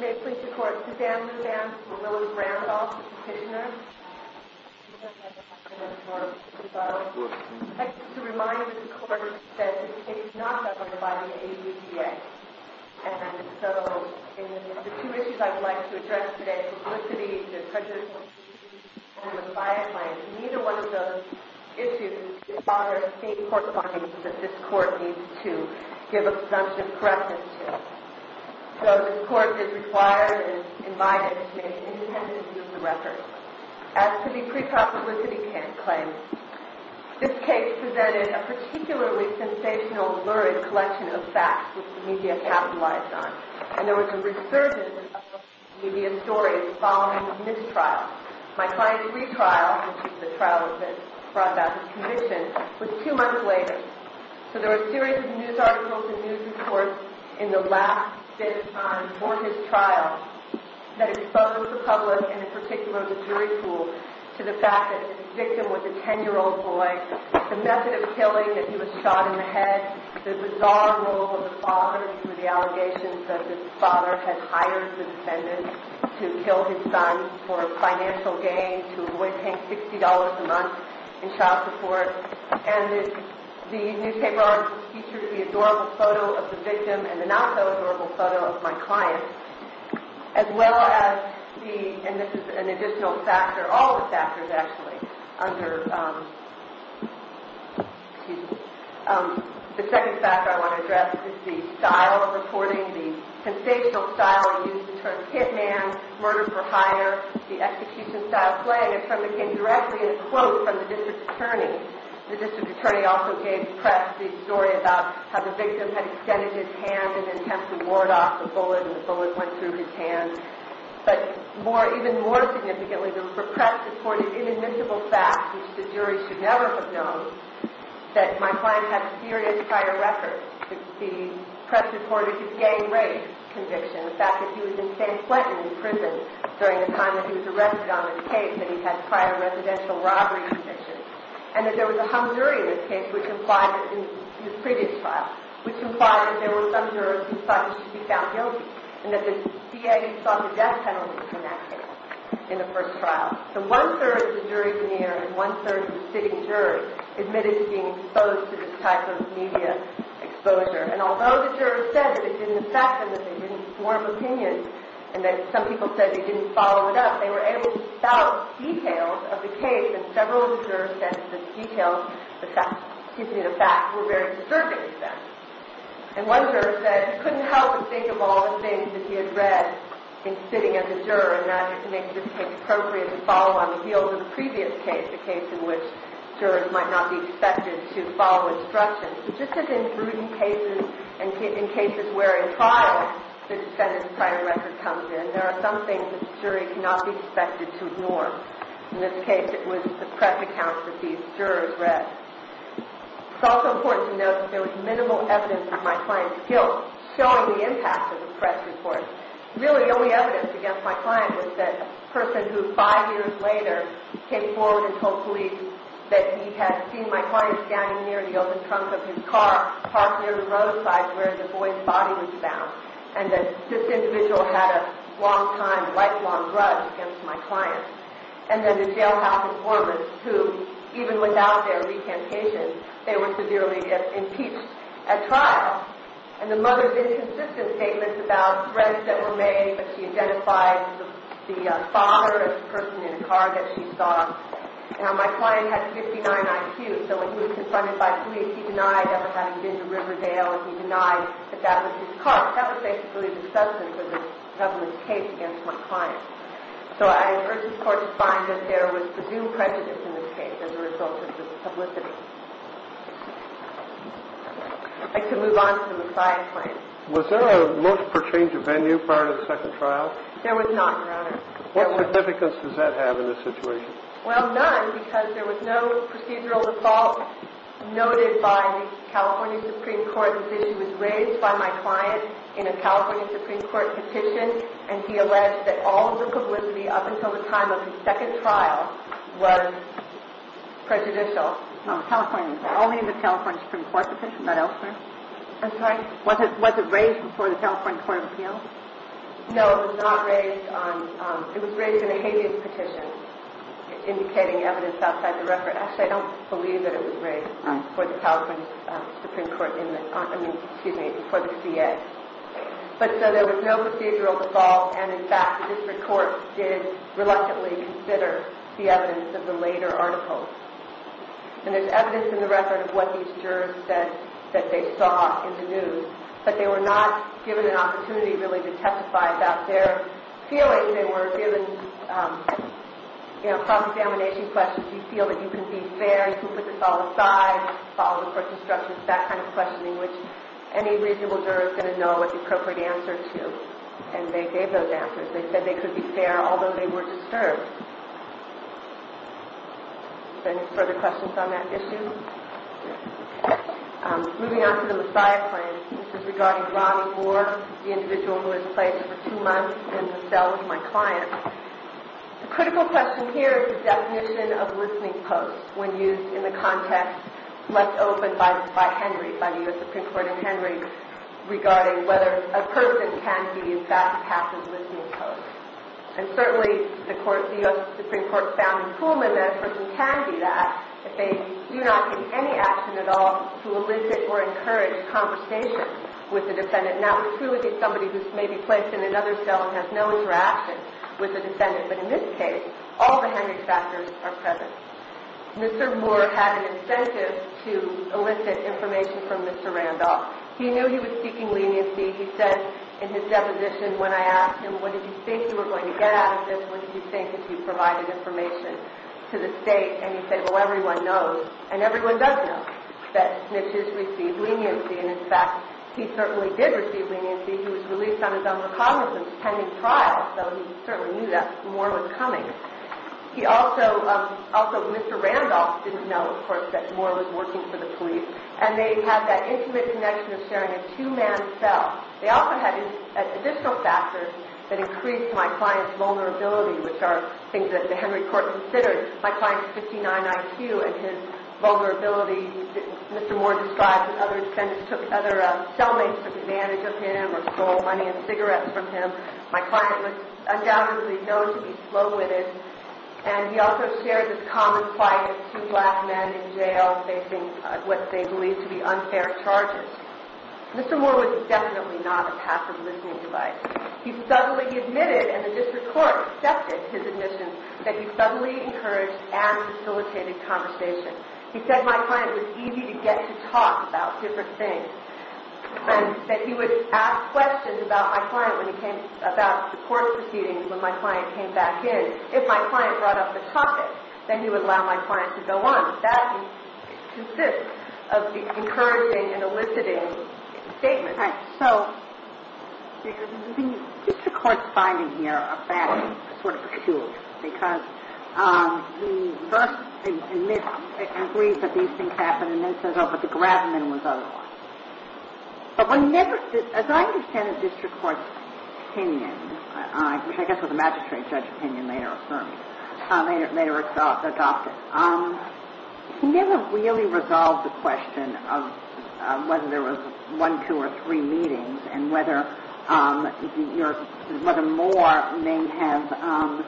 May it please the Court, Suzanne Luzam from Lillie Randolph, Petitioner. I'd like to remind the Court that the State is not notified of any EPA. And so, the two issues I'd like to address today, publicity, the prejudice and the bias lines, neither one of those issues is part of the State court findings that this Court needs to give a presumptive correction to. So, this Court is required and is invited to make independent use of the record. As to the pre-publicity claim, this case presented a particularly sensational, lurid collection of facts which the media capitalized on. And there was a resurgence of those media stories following the mistrial. My client's retrial, which is the trial that brought about his conviction, was two months later. So, there were a series of news articles and news reports in the last bit of time before his trial that exposed the public, and in particular the jury pool, to the fact that the victim was a 10-year-old boy, the method of killing, that he was shot in the head, the bizarre role of the father through the allegations that the father had hired the defendant to kill his son for financial gain, to avoid paying $60 a month in child support. And the newspaper articles featured the adorable photo of the victim and the not-so-adorable photo of my client, as well as the, and this is an additional factor, all the factors actually, under, excuse me, the second factor I want to address is the style of reporting, the sensational style used in terms of hit man, murder for hire, the execution style play. My client came directly in a quote from the district attorney. The district attorney also gave press the story about how the victim had extended his hand in an attempt to ward off the bullet, and the bullet went through his hand. But even more significantly, the press reported inadmissible facts, which the jury should never have known, that my client had serious prior records. The press reported his gay race conviction, the fact that he was in San Quentin in prison during the time that he was arrested on this case, that he had prior residential robbery convictions, and that there was a hung jury in this case, which implied, in his previous trial, which implied that there were some jurors who thought he should be found guilty, and that the DA sought the death penalty for that case in the first trial. So one-third of the juries in the area, and one-third of the sitting jurors, admitted to being exposed to this type of media exposure. And although the jurors said that it didn't affect them, that they didn't form opinions, and that some people said they didn't follow it up, they were able to spout details of the case, and several of the jurors said that the details, excuse me, the facts, were very disturbing to them. And one juror said he couldn't help but think of all the things that he had read in sitting as a juror, and that he could make this case appropriate to follow on the heels of the previous case, the case in which jurors might not be expected to follow instructions. Just as in prudent cases and cases where, in trial, the defendant's prior record comes in, there are some things that the jury cannot be expected to ignore. In this case, it was the press accounts that these jurors read. It's also important to note that there was minimal evidence of my client's guilt showing the impact of the press report. Really, the only evidence against my client was that the person who, five years later, came forward and told police that he had seen my client standing near the open trunk of his car, parked near the roadside where the boy's body was found, and that this individual had a long-time, lifelong grudge against my client. And then the jailhouse informants who, even without their recantation, they were severely impeached at trial. And the mother's inconsistent statements about threats that were made, but she identified the father as the person in the car that she saw. Now, my client had 59 IQ, so when he was confronted by police, he denied that was having been to Riverdale, and he denied that that was his car. That was basically the substance of this case against my client. So I urge this Court to find that there was presumed prejudice in this case as a result of this publicity. I can move on to the Messiah claim. Was there a look for change of venue prior to the second trial? There was not, Your Honor. What significance does that have in this situation? Well, none, because there was no procedural default noted by the California Supreme Court. This issue was raised by my client in a California Supreme Court petition, and he alleged that all of the publicity up until the time of the second trial was prejudicial. Only in the California Supreme Court petition, not elsewhere? I'm sorry. Was it raised before the California Court of Appeals? No, it was not raised. It was raised in a habeas petition indicating evidence outside the record. Actually, I don't believe that it was raised before the California Supreme Court in the – I mean, excuse me, before the CA. But so there was no procedural default, and, in fact, this Court did reluctantly consider the evidence of the later articles. And there's evidence in the record of what these jurors said that they saw in the news, but they were not given an opportunity, really, to testify about their feelings. They were given cross-examination questions. You feel that you can be fair, you can put this all aside, follow the court instructions, that kind of questioning, which any reasonable juror is going to know what the appropriate answer is to. And they gave those answers. They said they could be fair, although they were disturbed. Any further questions on that issue? Moving on to the Messiah claim, this is regarding Ronnie Moore, the individual who was placed for two months in the cell with my client. The critical question here is the definition of listening post when used in the context left open by Henry, by the U.S. Supreme Court in Henry, regarding whether a person can be, in fact, a passive listening post. And certainly, the U.S. Supreme Court found in Kuhlman that a person can be that if they do not take any action at all to elicit or encourage conversation with the defendant. Now, it would truly be somebody who's maybe placed in another cell and has no interaction with the defendant, but in this case, all the Henry factors are present. Mr. Moore had an incentive to elicit information from Mr. Randolph. He knew he was seeking leniency. He said in his deposition when I asked him, what did you think you were going to get out of this? What did you think if you provided information to the state? And he said, well, everyone knows. And everyone does know that Snitches received leniency. And, in fact, he certainly did receive leniency. He was released on his own recognizance pending trial, so he certainly knew that Moore was coming. He also, also Mr. Randolph didn't know, of course, that Moore was working for the police. And they have that intimate connection of sharing a two-man cell. They also had additional factors that increased my client's vulnerability, which are things that the Henry court considered. My client's 59 IQ and his vulnerability. Mr. Moore described that other cellmates took advantage of him or stole money and cigarettes from him. My client was undoubtedly known to be slow-witted. And he also shared his common plight of two black men in jail facing what they believed to be unfair charges. Mr. Moore was definitely not a passive listening device. He subtly admitted, and the district court accepted his admission, that he subtly encouraged and facilitated conversation. He said my client was easy to get to talk about different things. And that he would ask questions about my client when he came, about court proceedings when my client came back in. If my client brought up the topic, then he would allow my client to go on. That consists of the encouraging and eliciting statements. All right. So, the district court's finding here are facts, sort of, of two. Because he first admits, agrees that these things happened, and then says, oh, but the grabbin' was otherwise. But as I understand it, district court's opinion, which I guess was a magistrate judge's opinion, later affirmed, later adopted. He never really resolved the question of whether there was one, two, or three meetings, and whether Moore may have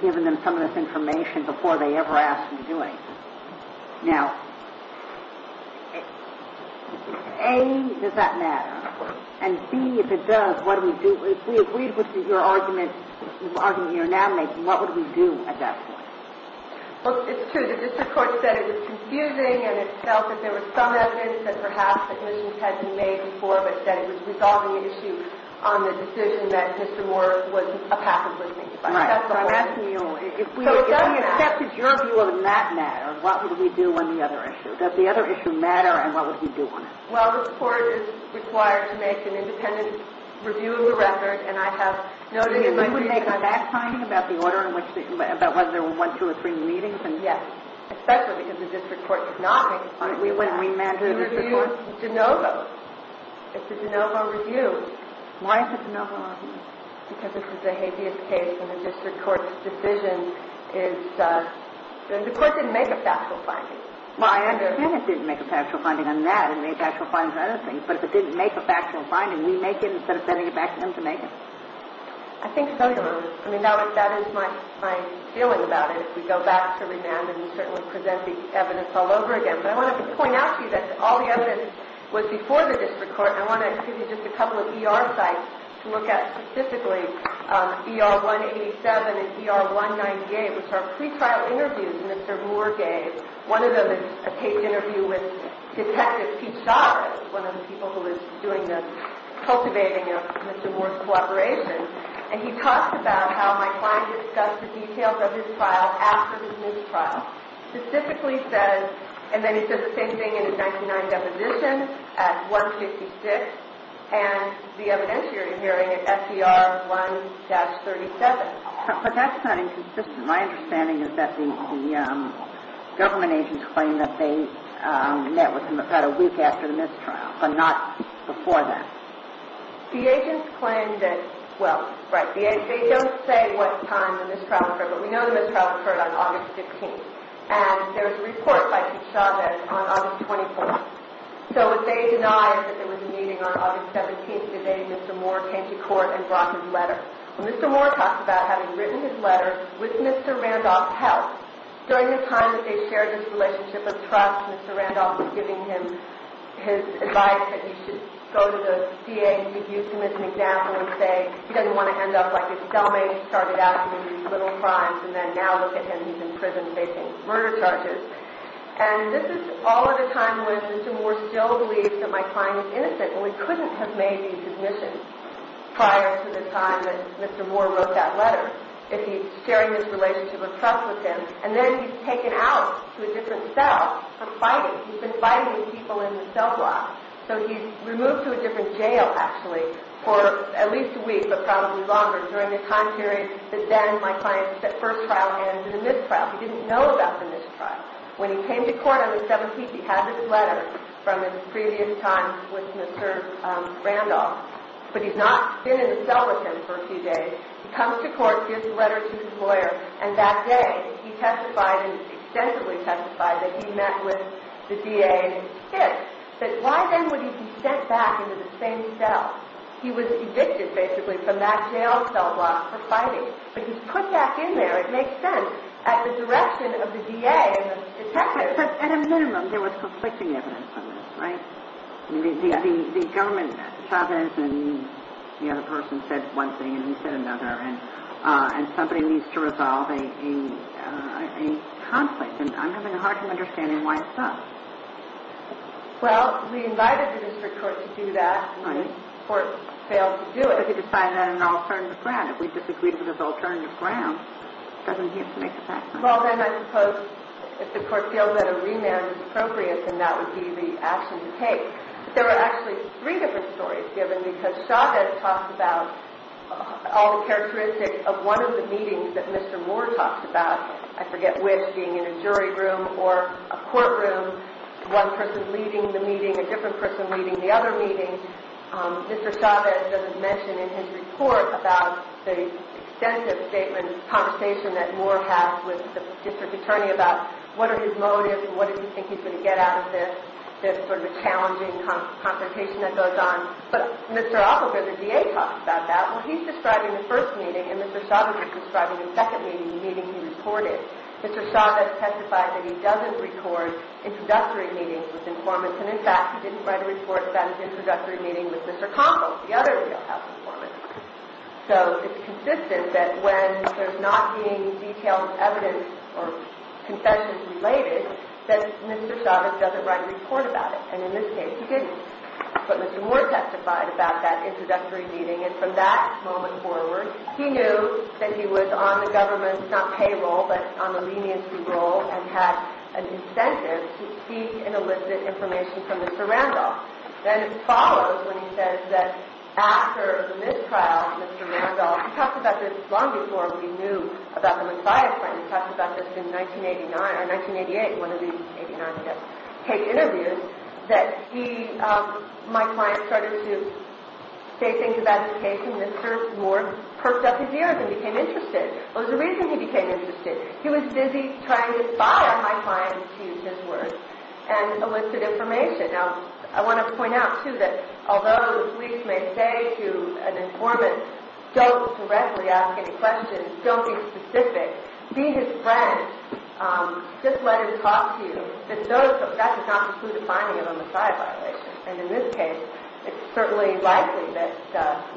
given them some of this information before they ever asked him to do it. Now, A, does that matter? And B, if it does, what do we do? If we agreed with your argument, your argument you're now making, what would we do at that point? Well, it's true. The district court said it was confusing, and it felt that there were some evidence that perhaps admissions had been made before, but said it was resolving an issue on the decision that Mr. Moore was a pacifist. Right. So I'm asking you, if we accepted your view on that matter, what would we do on the other issue? Does the other issue matter, and what would we do on it? Well, the court is required to make an independent review of the record, and I have noted in my brief that... You would make a fact finding about the order in which, about whether there were one, two, or three meetings? Yes, especially because the district court did not make a fact finding. We wouldn't remand the district court? We reviewed DeNovo. It's a DeNovo review. Why is it a DeNovo review? Because this is a habeas case, and the district court's decision is... And the court didn't make a factual finding. Well, I understand it didn't make a factual finding on that. It made factual findings on other things. But if it didn't make a factual finding, we make it instead of sending it back to them to make it. I think so, Your Honor. I mean, that is my feeling about it. If we go back to remand, and we certainly present the evidence all over again. I want to point out to you that all the evidence was before the district court. I want to give you just a couple of ER sites to look at specifically. ER 187 and ER 198, which are pre-trial interviews Mr. Moore gave. One of them is a case interview with Detective Pete Shaw, one of the people who was doing the cultivating of Mr. Moore's collaboration. And he talks about how my client discussed the details of his trial after his mistrial. He specifically says, and then he says the same thing in his 99 deposition at 156, and the evidentiary hearing at SDR 1-37. But that's not inconsistent. My understanding is that the government agents claim that they met with him about a week after the mistrial, but not before that. The agents claim that... well, right. They don't say what time the mistrial occurred, but we know the mistrial occurred on August 15th. And there's a report by Pete Shaw that it's on August 24th. So what they deny is that there was a meeting on August 17th, the day Mr. Moore came to court and brought his letter. Well, Mr. Moore talks about having written his letter with Mr. Randolph's help. During the time that they shared this relationship of trust, Mr. Randolph was giving him his advice that he should go to the DA and use him as an example and say he doesn't want to end up like his cellmate who started out doing these little crimes and then now look at him, he's in prison facing murder charges. And this is all at a time when Mr. Moore still believes that my client is innocent, and we couldn't have made these admissions prior to the time that Mr. Moore wrote that letter. If he's sharing this relationship of trust with him, and then he's taken out to a different cell for fighting. He's been fighting people in the cell block. So he's removed to a different jail, actually, for at least a week, but probably longer, during the time period that then my client's first trial ended in the missed trial. He didn't know about the missed trial. When he came to court on the 17th, he had this letter from his previous time with Mr. Randolph, but he's not been in the cell with him for a few days. He comes to court, gives the letter to his lawyer, and that day he testified, and he extensively testified that he met with the DA and his kids. But why then would he be sent back into the same cell? He was evicted, basically, from that jail cell block for fighting, but he's put back in there. It makes sense. At the direction of the DA and the detectives. At a minimum, there was conflicting evidence on this, right? The government, Chavez and the other person said one thing and he said another, and somebody needs to resolve a conflict, and I'm having a hard time understanding why it's done. Well, we invited the district court to do that. Right. The court failed to do it. But he decided on an alternative ground. If we disagreed with his alternative ground, doesn't he have to make it back? Well, then I suppose if the court feels that a remand is appropriate, then that would be the action to take. There are actually three different stories given, because Chavez talks about all the characteristics of one of the meetings that Mr. Moore talks about. I forget which, being in a jury room or a courtroom, one person leading the meeting, a different person leading the other meeting. Mr. Chavez doesn't mention in his report about the extensive statement, conversation that Moore had with the district attorney about what are his motives and what does he think he's going to get out of this sort of a challenging consultation that goes on. But Mr. Oppenheimer, the DA, talks about that. Well, he's describing the first meeting, and Mr. Chavez is describing the second meeting, the meeting he reported. Mr. Chavez testified that he doesn't record introductory meetings with informants, and in fact, he didn't write a report about his introductory meeting with Mr. Connell, the other jailhouse informant. So it's consistent that when there's not being detailed evidence or confessions related, that Mr. Chavez doesn't write a report about it. And in this case, he didn't. But Mr. Moore testified about that introductory meeting, and from that moment forward, he knew that he was on the government's, not payroll, but on the leniency roll, and had an incentive to seek and elicit information from Mr. Randolph. Then it follows when he says that after the mistrial of Mr. Randolph, he talked about this long before we knew about the Messiah claim. He talked about this in 1989, or 1988, one of these 89, I guess, case interviews, that he, my client, started to say things about his case, and Mr. Moore perked up his ears and became interested. It was the reason he became interested. He was busy trying to fire my client, to use his words, and elicit information. Now, I want to point out, too, that although the police may say to an informant, don't directly ask any questions, don't be specific, be his friend, just let him talk to you, that does not include a finding of a Messiah violation. And in this case, it's certainly likely that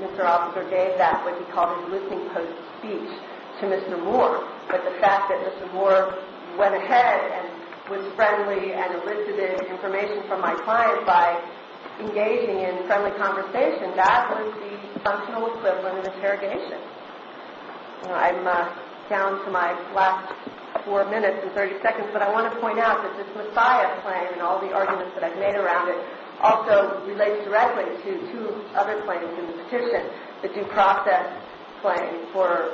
Mr. Officer gave that what he called an eliciting post speech to Mr. Moore. But the fact that Mr. Moore went ahead and was friendly and elicited information from my client by engaging in friendly conversation, that was the functional equivalent of interrogation. I'm down to my last four minutes and 30 seconds, but I want to point out that this Messiah claim and all the arguments that I've made around it also relates directly to two other claims in the petition, the due process claim for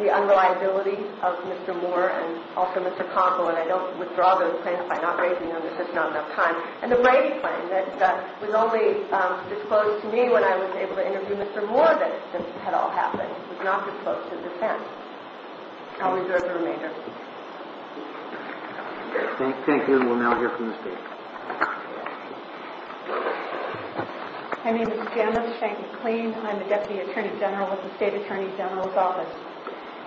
the unreliability of Mr. Moore and also Mr. Conkle, and I don't withdraw those claims by not raising them because there's not enough time, and the Brady claim that was only disclosed to me when I was able to interview Mr. Moore that had all happened. It was not disclosed to the defense. I'll reserve the remainder. Thank you. We'll now hear from the state. My name is Janice Shank-McLean. I'm the Deputy Attorney General with the State Attorney General's Office.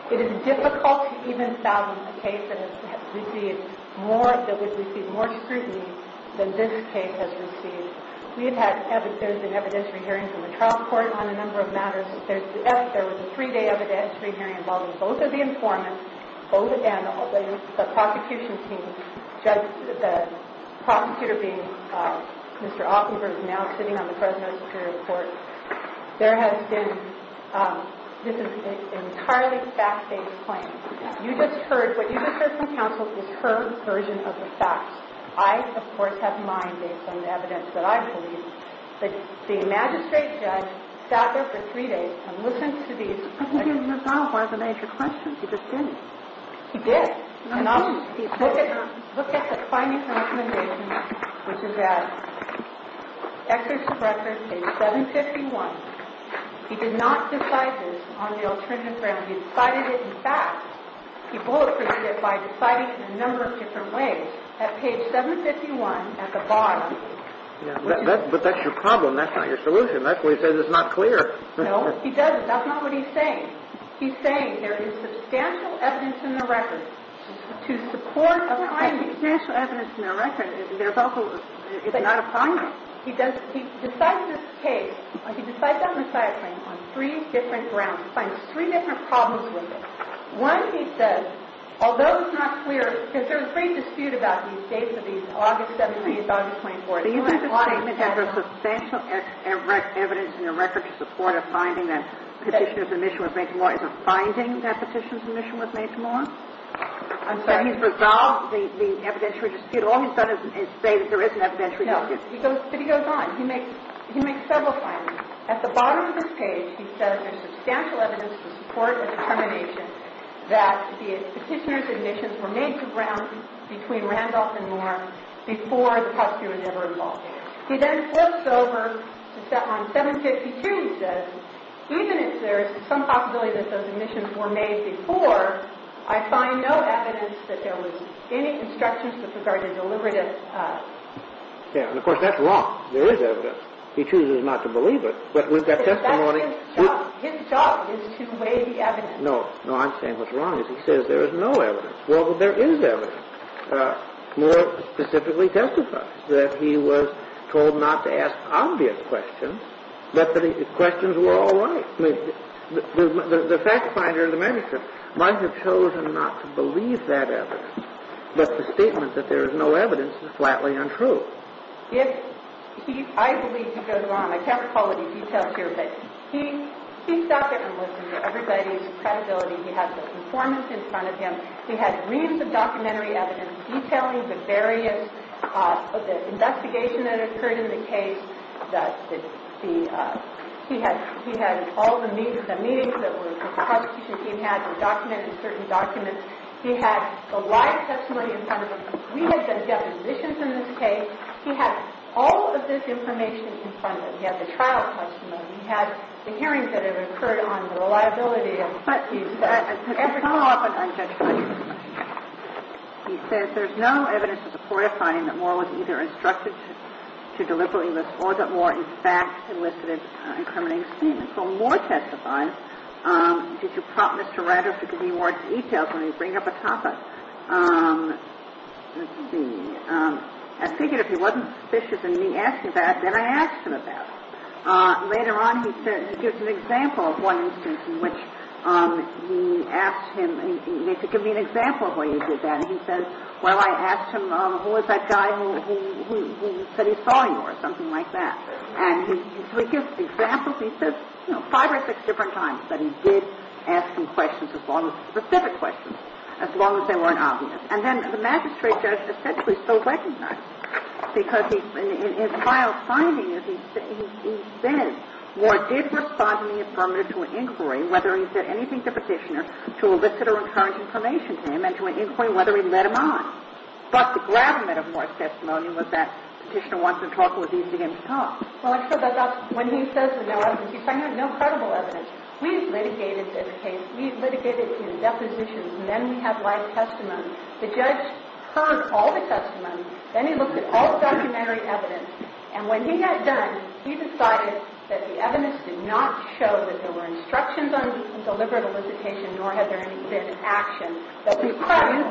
It is difficult to even fathom a case that would receive more scrutiny than this case has received. We've had evidentiary hearings in the trial court on a number of matters. There was a three-day evidentiary hearing involving both of the informants, both of them, and the prosecution team, the prosecutor being Mr. Offenberg, who is now sitting on the Fresno Superior Court. This is an entirely fact-based claim. What you just heard from counsel is her version of the facts. I, of course, have mine based on the evidence that I believe. The magistrate judge sat there for three days and listened to these questions. I think he resolved one of the major questions. He just didn't. He did. He looked at the findings and recommendations, which is at Executive Director, page 751. He did not decide this on the alternative ground. He decided it in fact. He bulleted it by deciding it in a number of different ways at page 751 at the bottom. But that's your problem. That's not your solution. That's why he says it's not clear. No, he doesn't. That's not what he's saying. He's saying there is substantial evidence in the record to support a finding. There's substantial evidence in the record. It's not a finding. He decides this case. He decides that messiah claim on three different grounds. He finds three different problems with it. One, he says, although it's not clear, because there was great dispute about these dates of these August 17th, August 24th. Do you think the statement that there's substantial evidence in the record to support a finding that Petitioner's Admission was made to law is a finding that Petitioner's Admission was made to law? I'm sorry. So he's resolved the evidentiary dispute. All he's done is say that there is an evidentiary dispute. No. But he goes on. He makes several findings. At the bottom of this page, he says there's substantial evidence to support a determination that the Petitioner's Admissions were made to ground between Randolph and Moore before the prosecutor was ever involved in it. He then flips over to step on 752. He says, even if there is some possibility that those admissions were made before, I find no evidence that there was any constructions with regard to deliberative... Yeah, and of course, that's wrong. There is evidence. He chooses not to believe it, but with that testimony... That's his job. His job is to weigh the evidence. No. No, I'm saying what's wrong is he says there is no evidence. Well, there is evidence. Moore specifically testified that he was told not to ask obvious questions, but the questions were all right. I mean, the fact finder, the magistrate, might have chosen not to believe that evidence, but the statement that there is no evidence is flatly untrue. If he... I believe he goes on. I can't recall any details here, but he... He's not going to listen to everybody's credibility. He has the performance in front of him. He had reams of documentary evidence detailing the various... The investigation that occurred in the case. He had all the meetings that the prosecution team had and documented certain documents. He had the live testimony in front of him. We had the depositions in this case. He had all of this information in front of him. He had the trial testimony. He had the hearings that have occurred on the reliability of... But he said... Every so often, I'm just... He says there's no evidence to support a finding that Moore was either instructed to deliberately list or that Moore in fact solicited incriminating statements. Well, Moore testified. Did you prompt Mr. Rogers to give me more details when you bring up a topic? Let's see. I figured if he wasn't suspicious of me asking that, then I asked him about it. Later on, he gives an example of one instance in which he asked him to give me an example of where he did that. And he said, well, I asked him who was that guy who said he saw you or something like that. And so he gives examples. He says five or six different times that he did ask him questions as long as... Specific questions as long as they weren't obvious. And then the magistrate judge essentially still recognized him because in his final findings, he said Moore did respond in the affirmative to an inquiry, whether he said anything to Petitioner, to elicit or return information to him, and to an inquiry whether he led him on. But the gravamen of Moore's testimony was that Petitioner wants him to talk, but he didn't begin to talk. When he says there's no evidence, he's saying there's no credible evidence. We've litigated this case. We've litigated his depositions. And then we have live testimony. The judge heard all the testimony. Then he looked at all the documentary evidence. And when he got done, he decided that the evidence did not show that there were instructions on deliberate elicitation, nor had there been action. So you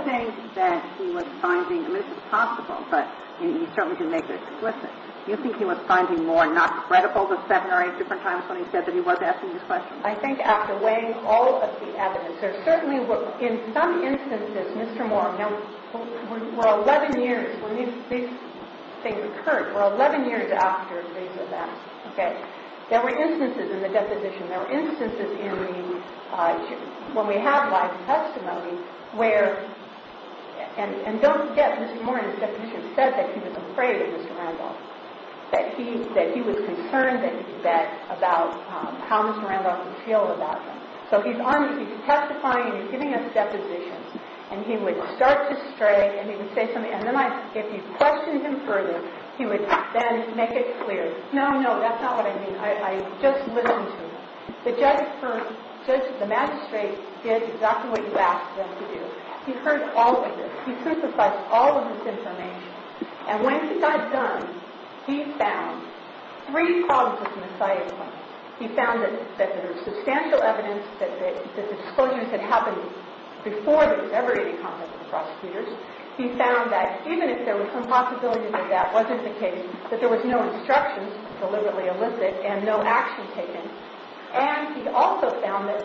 think that he was finding, and this is possible, but you certainly can make it explicit, you think he was finding Moore not credible the seven or eight different times when he said that he was asking these questions? I think after weighing all of the evidence, there certainly were, in some instances, Mr. Moore, we're 11 years, when these things occurred, we're 11 years after these events. There were instances in the deposition, there were instances in the, when we have live testimony, where, and don't forget, Mr. Moore in his deposition said that he was afraid of Mr. Randolph, that he was concerned about how Mr. Randolph would feel about him. So he's on, he's testifying, and he's giving us depositions, and he would start to stray, and he would say something, and then I, if you questioned him further, he would then make it clear, no, no, that's not what I mean, I just listened to him. The judge heard, the magistrate did exactly what you asked them to do. He heard all of this. He synthesized all of this information. And when he got done, he found three causes in the site. He found that there was substantial evidence that the disclosures had happened before there was ever any contact with the prosecutors. He found that even if there was some possibility that that wasn't the case, that there was no instructions deliberately elicited and no action taken. And he also found that,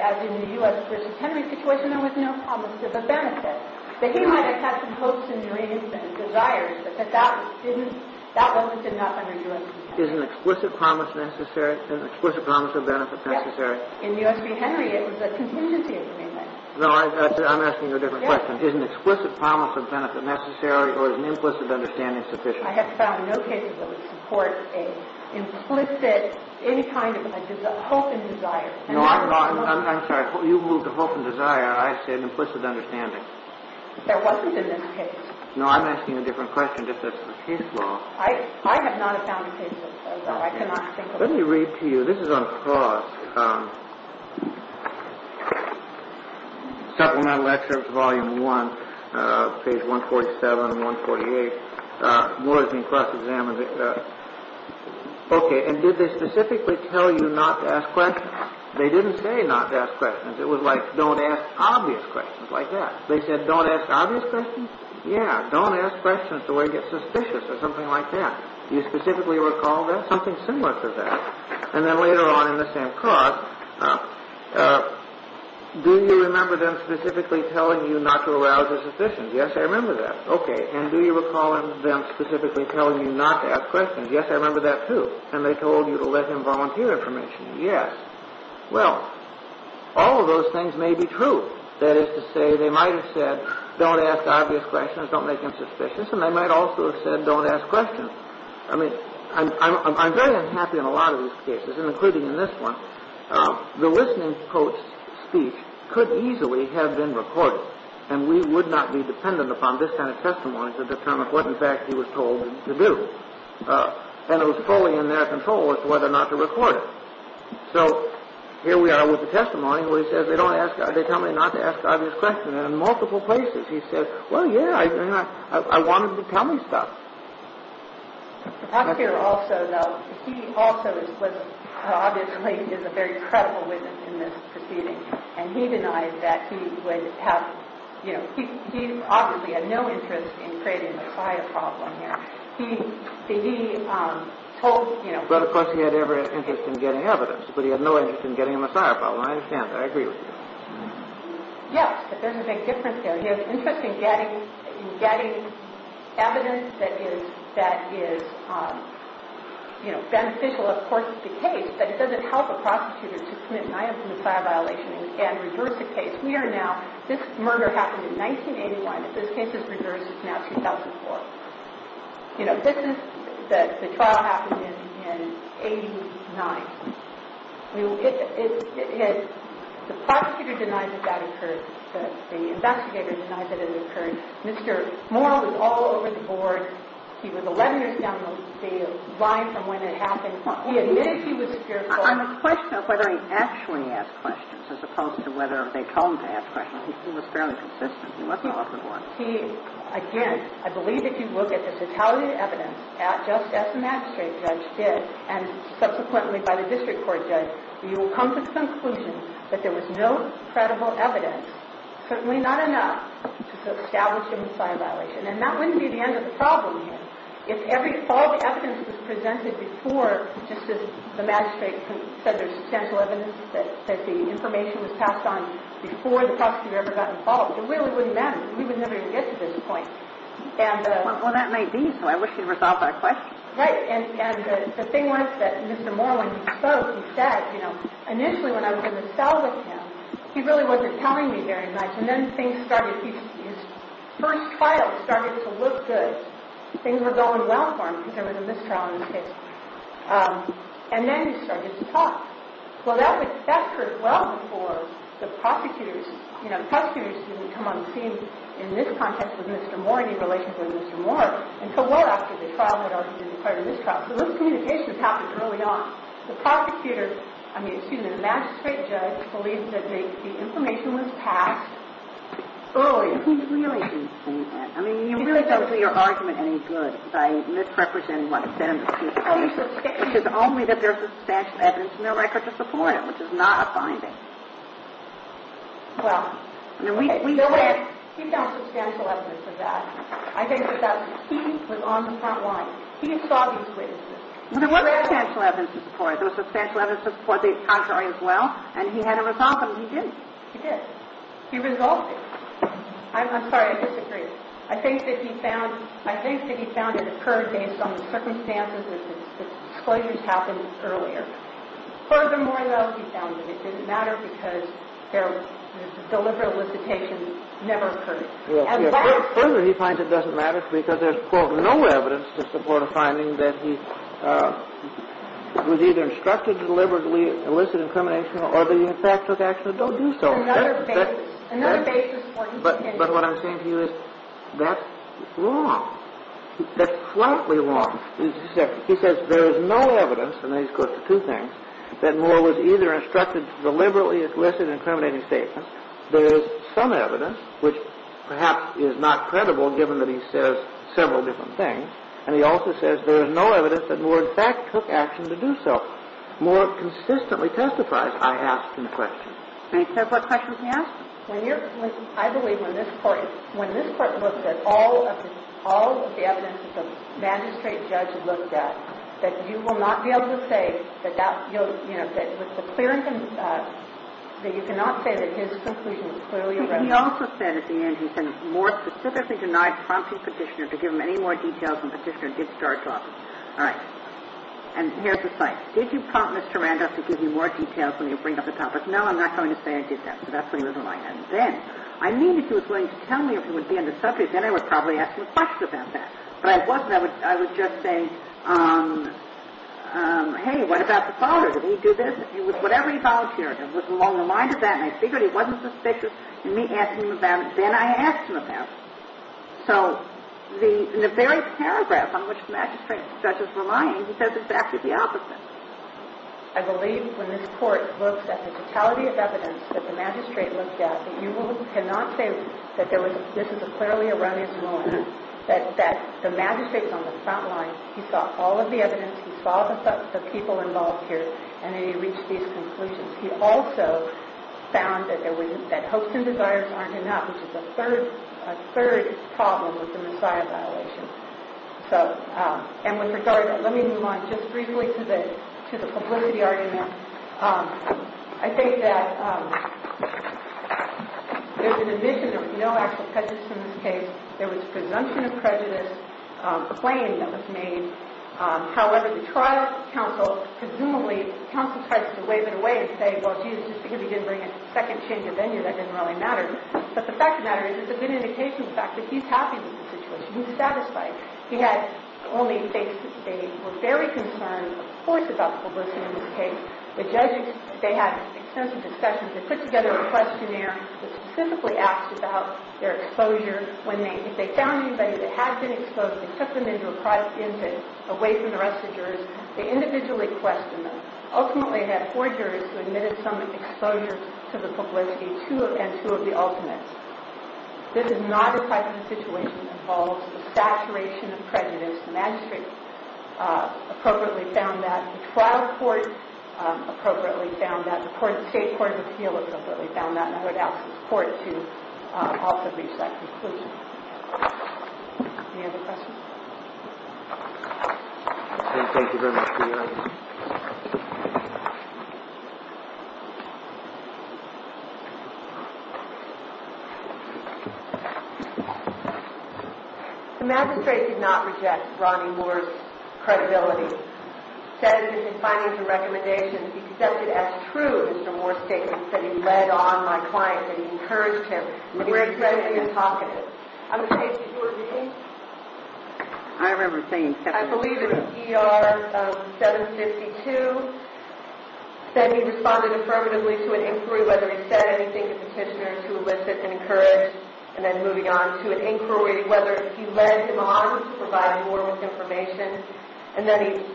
as in the U.S. v. Henry situation, there was no promise of a benefit, that he might have had some hopes and dreams and desires, but that that didn't, that wasn't enough under U.S. law. Is an explicit promise necessary, an explicit promise of benefit necessary? Yes. In the U.S. v. Henry, it was a contingency agreement. No, I'm asking you a different question. Yes. Is an explicit promise of benefit necessary, or is an implicit understanding sufficient? I have found no cases that would support an implicit, any kind of hope and desire. No, I'm sorry, you moved to hope and desire, I said implicit understanding. There wasn't in this case. No, I'm asking a different question, if that's the case law. I have not found cases, so I cannot think of them. Let me read to you, this is on clause, Supplemental Excerpts, Volume 1, Pages 147 and 148, Morris and Kruss examined it. Okay, and did they specifically tell you not to ask questions? They didn't say not to ask questions. It was like, don't ask obvious questions, like that. They said, don't ask obvious questions? Yeah, don't ask questions, or you'll get suspicious, or something like that. Do you specifically recall that? Something similar to that. And then later on in the same clause, do you remember them specifically telling you not to arouse a suspicion? Yes, I remember that. Okay, and do you recall them specifically telling you not to ask questions? Yes, I remember that too. And they told you to let him volunteer information. Yes. Well, all of those things may be true. That is to say, they might have said, don't ask obvious questions, don't make him suspicious, and they might also have said, don't ask questions. I mean, I'm very unhappy in a lot of these cases, including in this one. The listening coach's speech could easily have been recorded, and we would not be dependent upon this kind of testimony to determine what, in fact, he was told to do. And it was fully in their control as to whether or not to record it. So here we are with the testimony where he says, they tell me not to ask obvious questions, and in multiple places he says, well, yeah, I wanted you to tell me stuff. Up here also, though, he also obviously is a very credible witness in this proceeding, and he denied that he would have, you know, he obviously had no interest in creating a prior problem here. But, of course, he had every interest in getting evidence, but he had no interest in getting a messiah problem. I understand that. I agree with you. Yes, but there's a big difference there. He has interest in getting evidence that is beneficial, of course, to the case, but it doesn't help a prosecutor to commit an item of messiah violation and reverse the case. Here, now, this murder happened in 1981. If this case is reversed, it's now 2004. You know, this is, the trial happened in 89. The prosecutor denied that that occurred. The investigator denied that it occurred. Mr. Morrell was all over the board. He was a letter-stammer, lying from when it happened. He admitted he was fearful. On the question of whether he actually asked questions as opposed to whether they told him to ask questions, he was fairly consistent. He wasn't all over the board. He, again, I believe if you look at the fatality of evidence, just as the magistrate judge did, and subsequently by the district court judge, you will come to the conclusion that there was no credible evidence, certainly not enough, to establish a messiah violation. And that wouldn't be the end of the problem here. If all the evidence was presented before, just as the magistrate said, there's substantial evidence that the information was passed on before the prosecutor ever got involved, it really wouldn't matter. We would never even get to this point. Well, that might be, so I wish you'd resolve that question. Right. And the thing was that Mr. Morrell, when he spoke, he said, you know, initially when I was in the cell with him, he really wasn't telling me very much. And then things started, his first trials started to look good. Things were going well for him because there was a mistrial in his case. And then he started to talk. Well, that occurred well before the prosecutors, you know, the prosecutors didn't come on the scene in this context with Mr. Morrell, in relation to Mr. Morrell, until well after the trial had already been declared a mistrial. So those communications happened early on. The prosecutor, I mean, excuse me, the magistrate judge, believes that the information was passed early. I mean, you really don't do your argument any good by misrepresenting what's said in the case, which is only that there's substantial evidence in the record to support it, which is not a finding. Well, he found substantial evidence of that. I think that he was on the front lines. He saw these witnesses. There was substantial evidence to support it. There was substantial evidence to support the contrary as well. And he had to resolve them. He did. He did. He resolved it. I'm sorry, I disagree. I think that he found it occurred based on the circumstances and the disclosures happened earlier. Furthermore, though, he found that it didn't matter because their deliberate elicitation never occurred. Further, he finds it doesn't matter because there's, quote, no evidence to support a finding that he was either instructed to deliberately elicit incrimination or that he, in fact, took action to do so. Another basis. But what I'm saying to you is that's wrong. That's slightly wrong. He says there is no evidence, and then he goes to two things, that Moore was either instructed to deliberately elicit an incriminating statement, there is some evidence, which perhaps is not credible given that he says several different things, and he also says there is no evidence that Moore, in fact, took action to do so. Moore consistently testified, I ask, in the question. May I ask what question he asked? I believe when this Court looked at all of the evidence that the magistrate judge looked at, that you will not be able to say that that, you know, that with the clearance, that you cannot say that his conclusion is clearly irrelevant. He also said at the end, he said Moore specifically denied prompting Petitioner to give him any more details when Petitioner did start talking. All right. And here's the thing. Did you prompt Mr. Randolph to give you more details when you bring up the topic? No, I'm not going to say I did that. So that's what he was implying. And then, I mean if he was willing to tell me if he would be on the subject, then I would probably ask him a question about that. But I wasn't. I was just saying, hey, what about the father? Did he do this? It was whatever he volunteered. It was along the lines of that, and I figured he wasn't suspicious, and me asking him about it, then I asked him about it. So in the very paragraph on which the magistrate and the judge were lying, he said exactly the opposite. I believe when this Court looks at the totality of evidence that the magistrate looked at, that you cannot say that this is a clearly erroneous ruling, that the magistrate was on the front line, he saw all of the evidence, he saw the people involved here, and then he reached these conclusions. He also found that hopes and desires aren't enough, which is a third problem with the Messiah violation. And with regard to that, let me move on just briefly to the publicity argument. I think that there's an admission there was no actual prejudice in this case. There was presumption of prejudice, a claim that was made. However, the trial counsel, presumably, counsel tries to wave it away and say, well, gee, just because he didn't bring a second change of venue, that didn't really matter. But the fact of the matter is it's a good indication of the fact that he's happy with the situation. He's satisfied. He only thinks that they were very concerned, of course, about the publicity in this case. The judges, they had extensive discussions. They put together a questionnaire that specifically asked about their exposure. When they found anybody that had been exposed, they took them into a private incident away from the rest of the jurors. They individually questioned them. Ultimately, they had four jurors who admitted some exposure to the publicity and two of the alternates. This is not a private situation that involves a saturation of prejudice. The magistrate appropriately found that. The trial court appropriately found that. The state court of appeal appropriately found that. And I would ask the court to also reach that conclusion. Any other questions? Thank you very much for your time. The magistrate did not reject Ronnie Moore's credibility. He said in his findings and recommendations he accepted as true Mr. Moore's statements that he led on my client, that he encouraged him. I believe it was ER 752. Then he responded affirmatively to an inquiry, whether he said anything to petitioners who elicited and encouraged, and then moving on to an inquiry, whether he led him on to provide more with information. And then he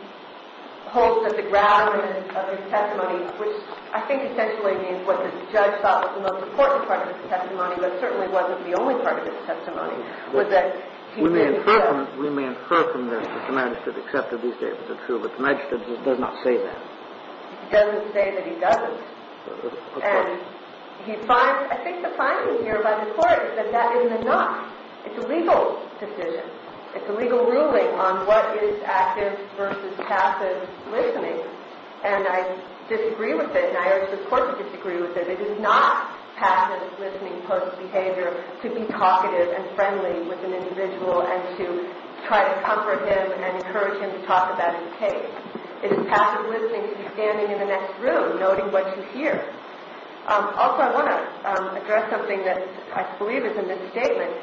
hopes that the gravity of his testimony, which I think essentially means what the judge thought was the most important part of his testimony, but certainly wasn't the only part of his testimony, was that he did so. We may infer from this that the magistrate accepted these statements as true, but the magistrate does not say that. He doesn't say that he doesn't. And I think the finding here by the court is that that is not. It's a legal decision. It's a legal ruling on what is active versus passive listening. And I disagree with it, and I urge the court to disagree with it. It is not passive listening post-behavior to be talkative and friendly with an individual and to try to comfort him and encourage him to talk about his case. It is passive listening to be standing in the next room, noting what you hear. Also, I want to address something that I believe is a misstatement.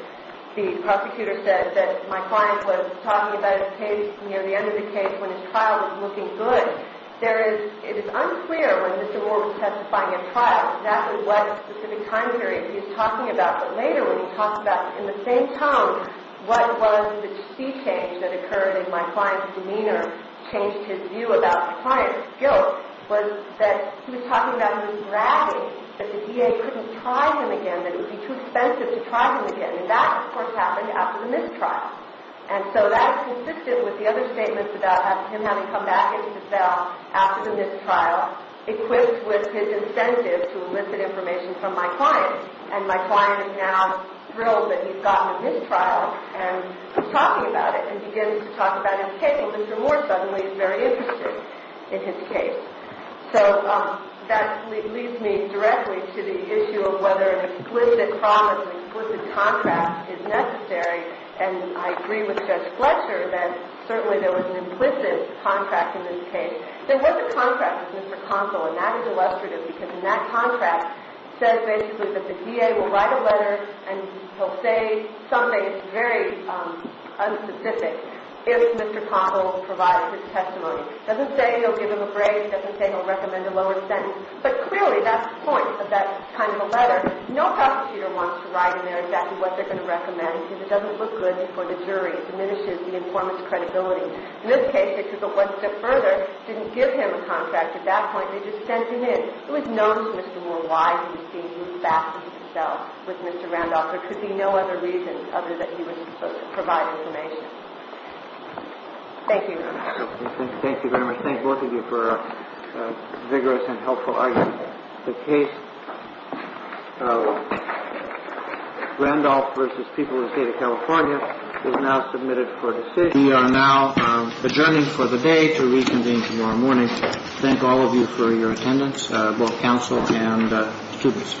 The prosecutor said that my client was talking about his case near the end of the case when his trial was looking good. It is unclear when Mr. Moore was testifying at trial exactly what specific time period he was talking about, but later when he talked about it in the same tone, what was the sea change that occurred in my client's demeanor changed his view about the client's guilt, was that he was talking about he was bragging that the DA couldn't try him again, that it would be too expensive to try him again. And that, of course, happened after the mistrial. And so that is consistent with the other statements about him having come back into his cell after the mistrial equipped with his incentive to elicit information from my client. And my client is now thrilled that he's gotten a mistrial and is talking about it and begins to talk about his case, and Mr. Moore suddenly is very interested in his case. So that leads me directly to the issue of whether an explicit promise, an explicit contract is necessary, and I agree with Judge Fletcher that certainly there was an implicit contract in this case. Then what's a contract with Mr. Conville? And that is illustrative because in that contract it says basically that the DA will write a letter and he'll say something that's very unspecific if Mr. Conville provides his testimony. It doesn't say he'll give him a break. It doesn't say he'll recommend a lower sentence. But clearly that's the point of that kind of a letter. No prosecutor wants to write in there exactly what they're going to recommend because it doesn't look good for the jury. It diminishes the informant's credibility. In this case, they took it one step further. They didn't give him a contract at that point. They just sent him in. It was known to Mr. Moore why he was being moved back into his cell with Mr. Randolph. There could be no other reason other than he was supposed to provide information. Thank you. Thank you very much. Thank both of you for a vigorous and helpful argument. The case of Randolph v. People of the State of California is now submitted for decision. We are now adjourning for the day to reconvene tomorrow morning. Thank all of you for your attendance, both counsel and students.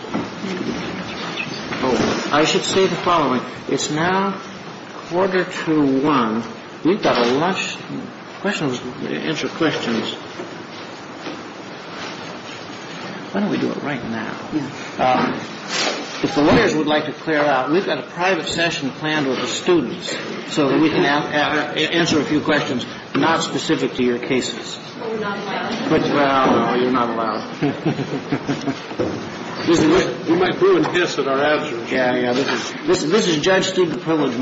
I should say the following. It's now quarter to 1. We've got a lunch. Questions, answer questions. Why don't we do it right now? If the lawyers would like to clear out, we've got a private session planned with the students so that we can answer a few questions not specific to your cases. Well, you're not allowed. You might brew and hiss at our answers. Yeah, yeah. This is judge student privilege material. Thank you. Thank you.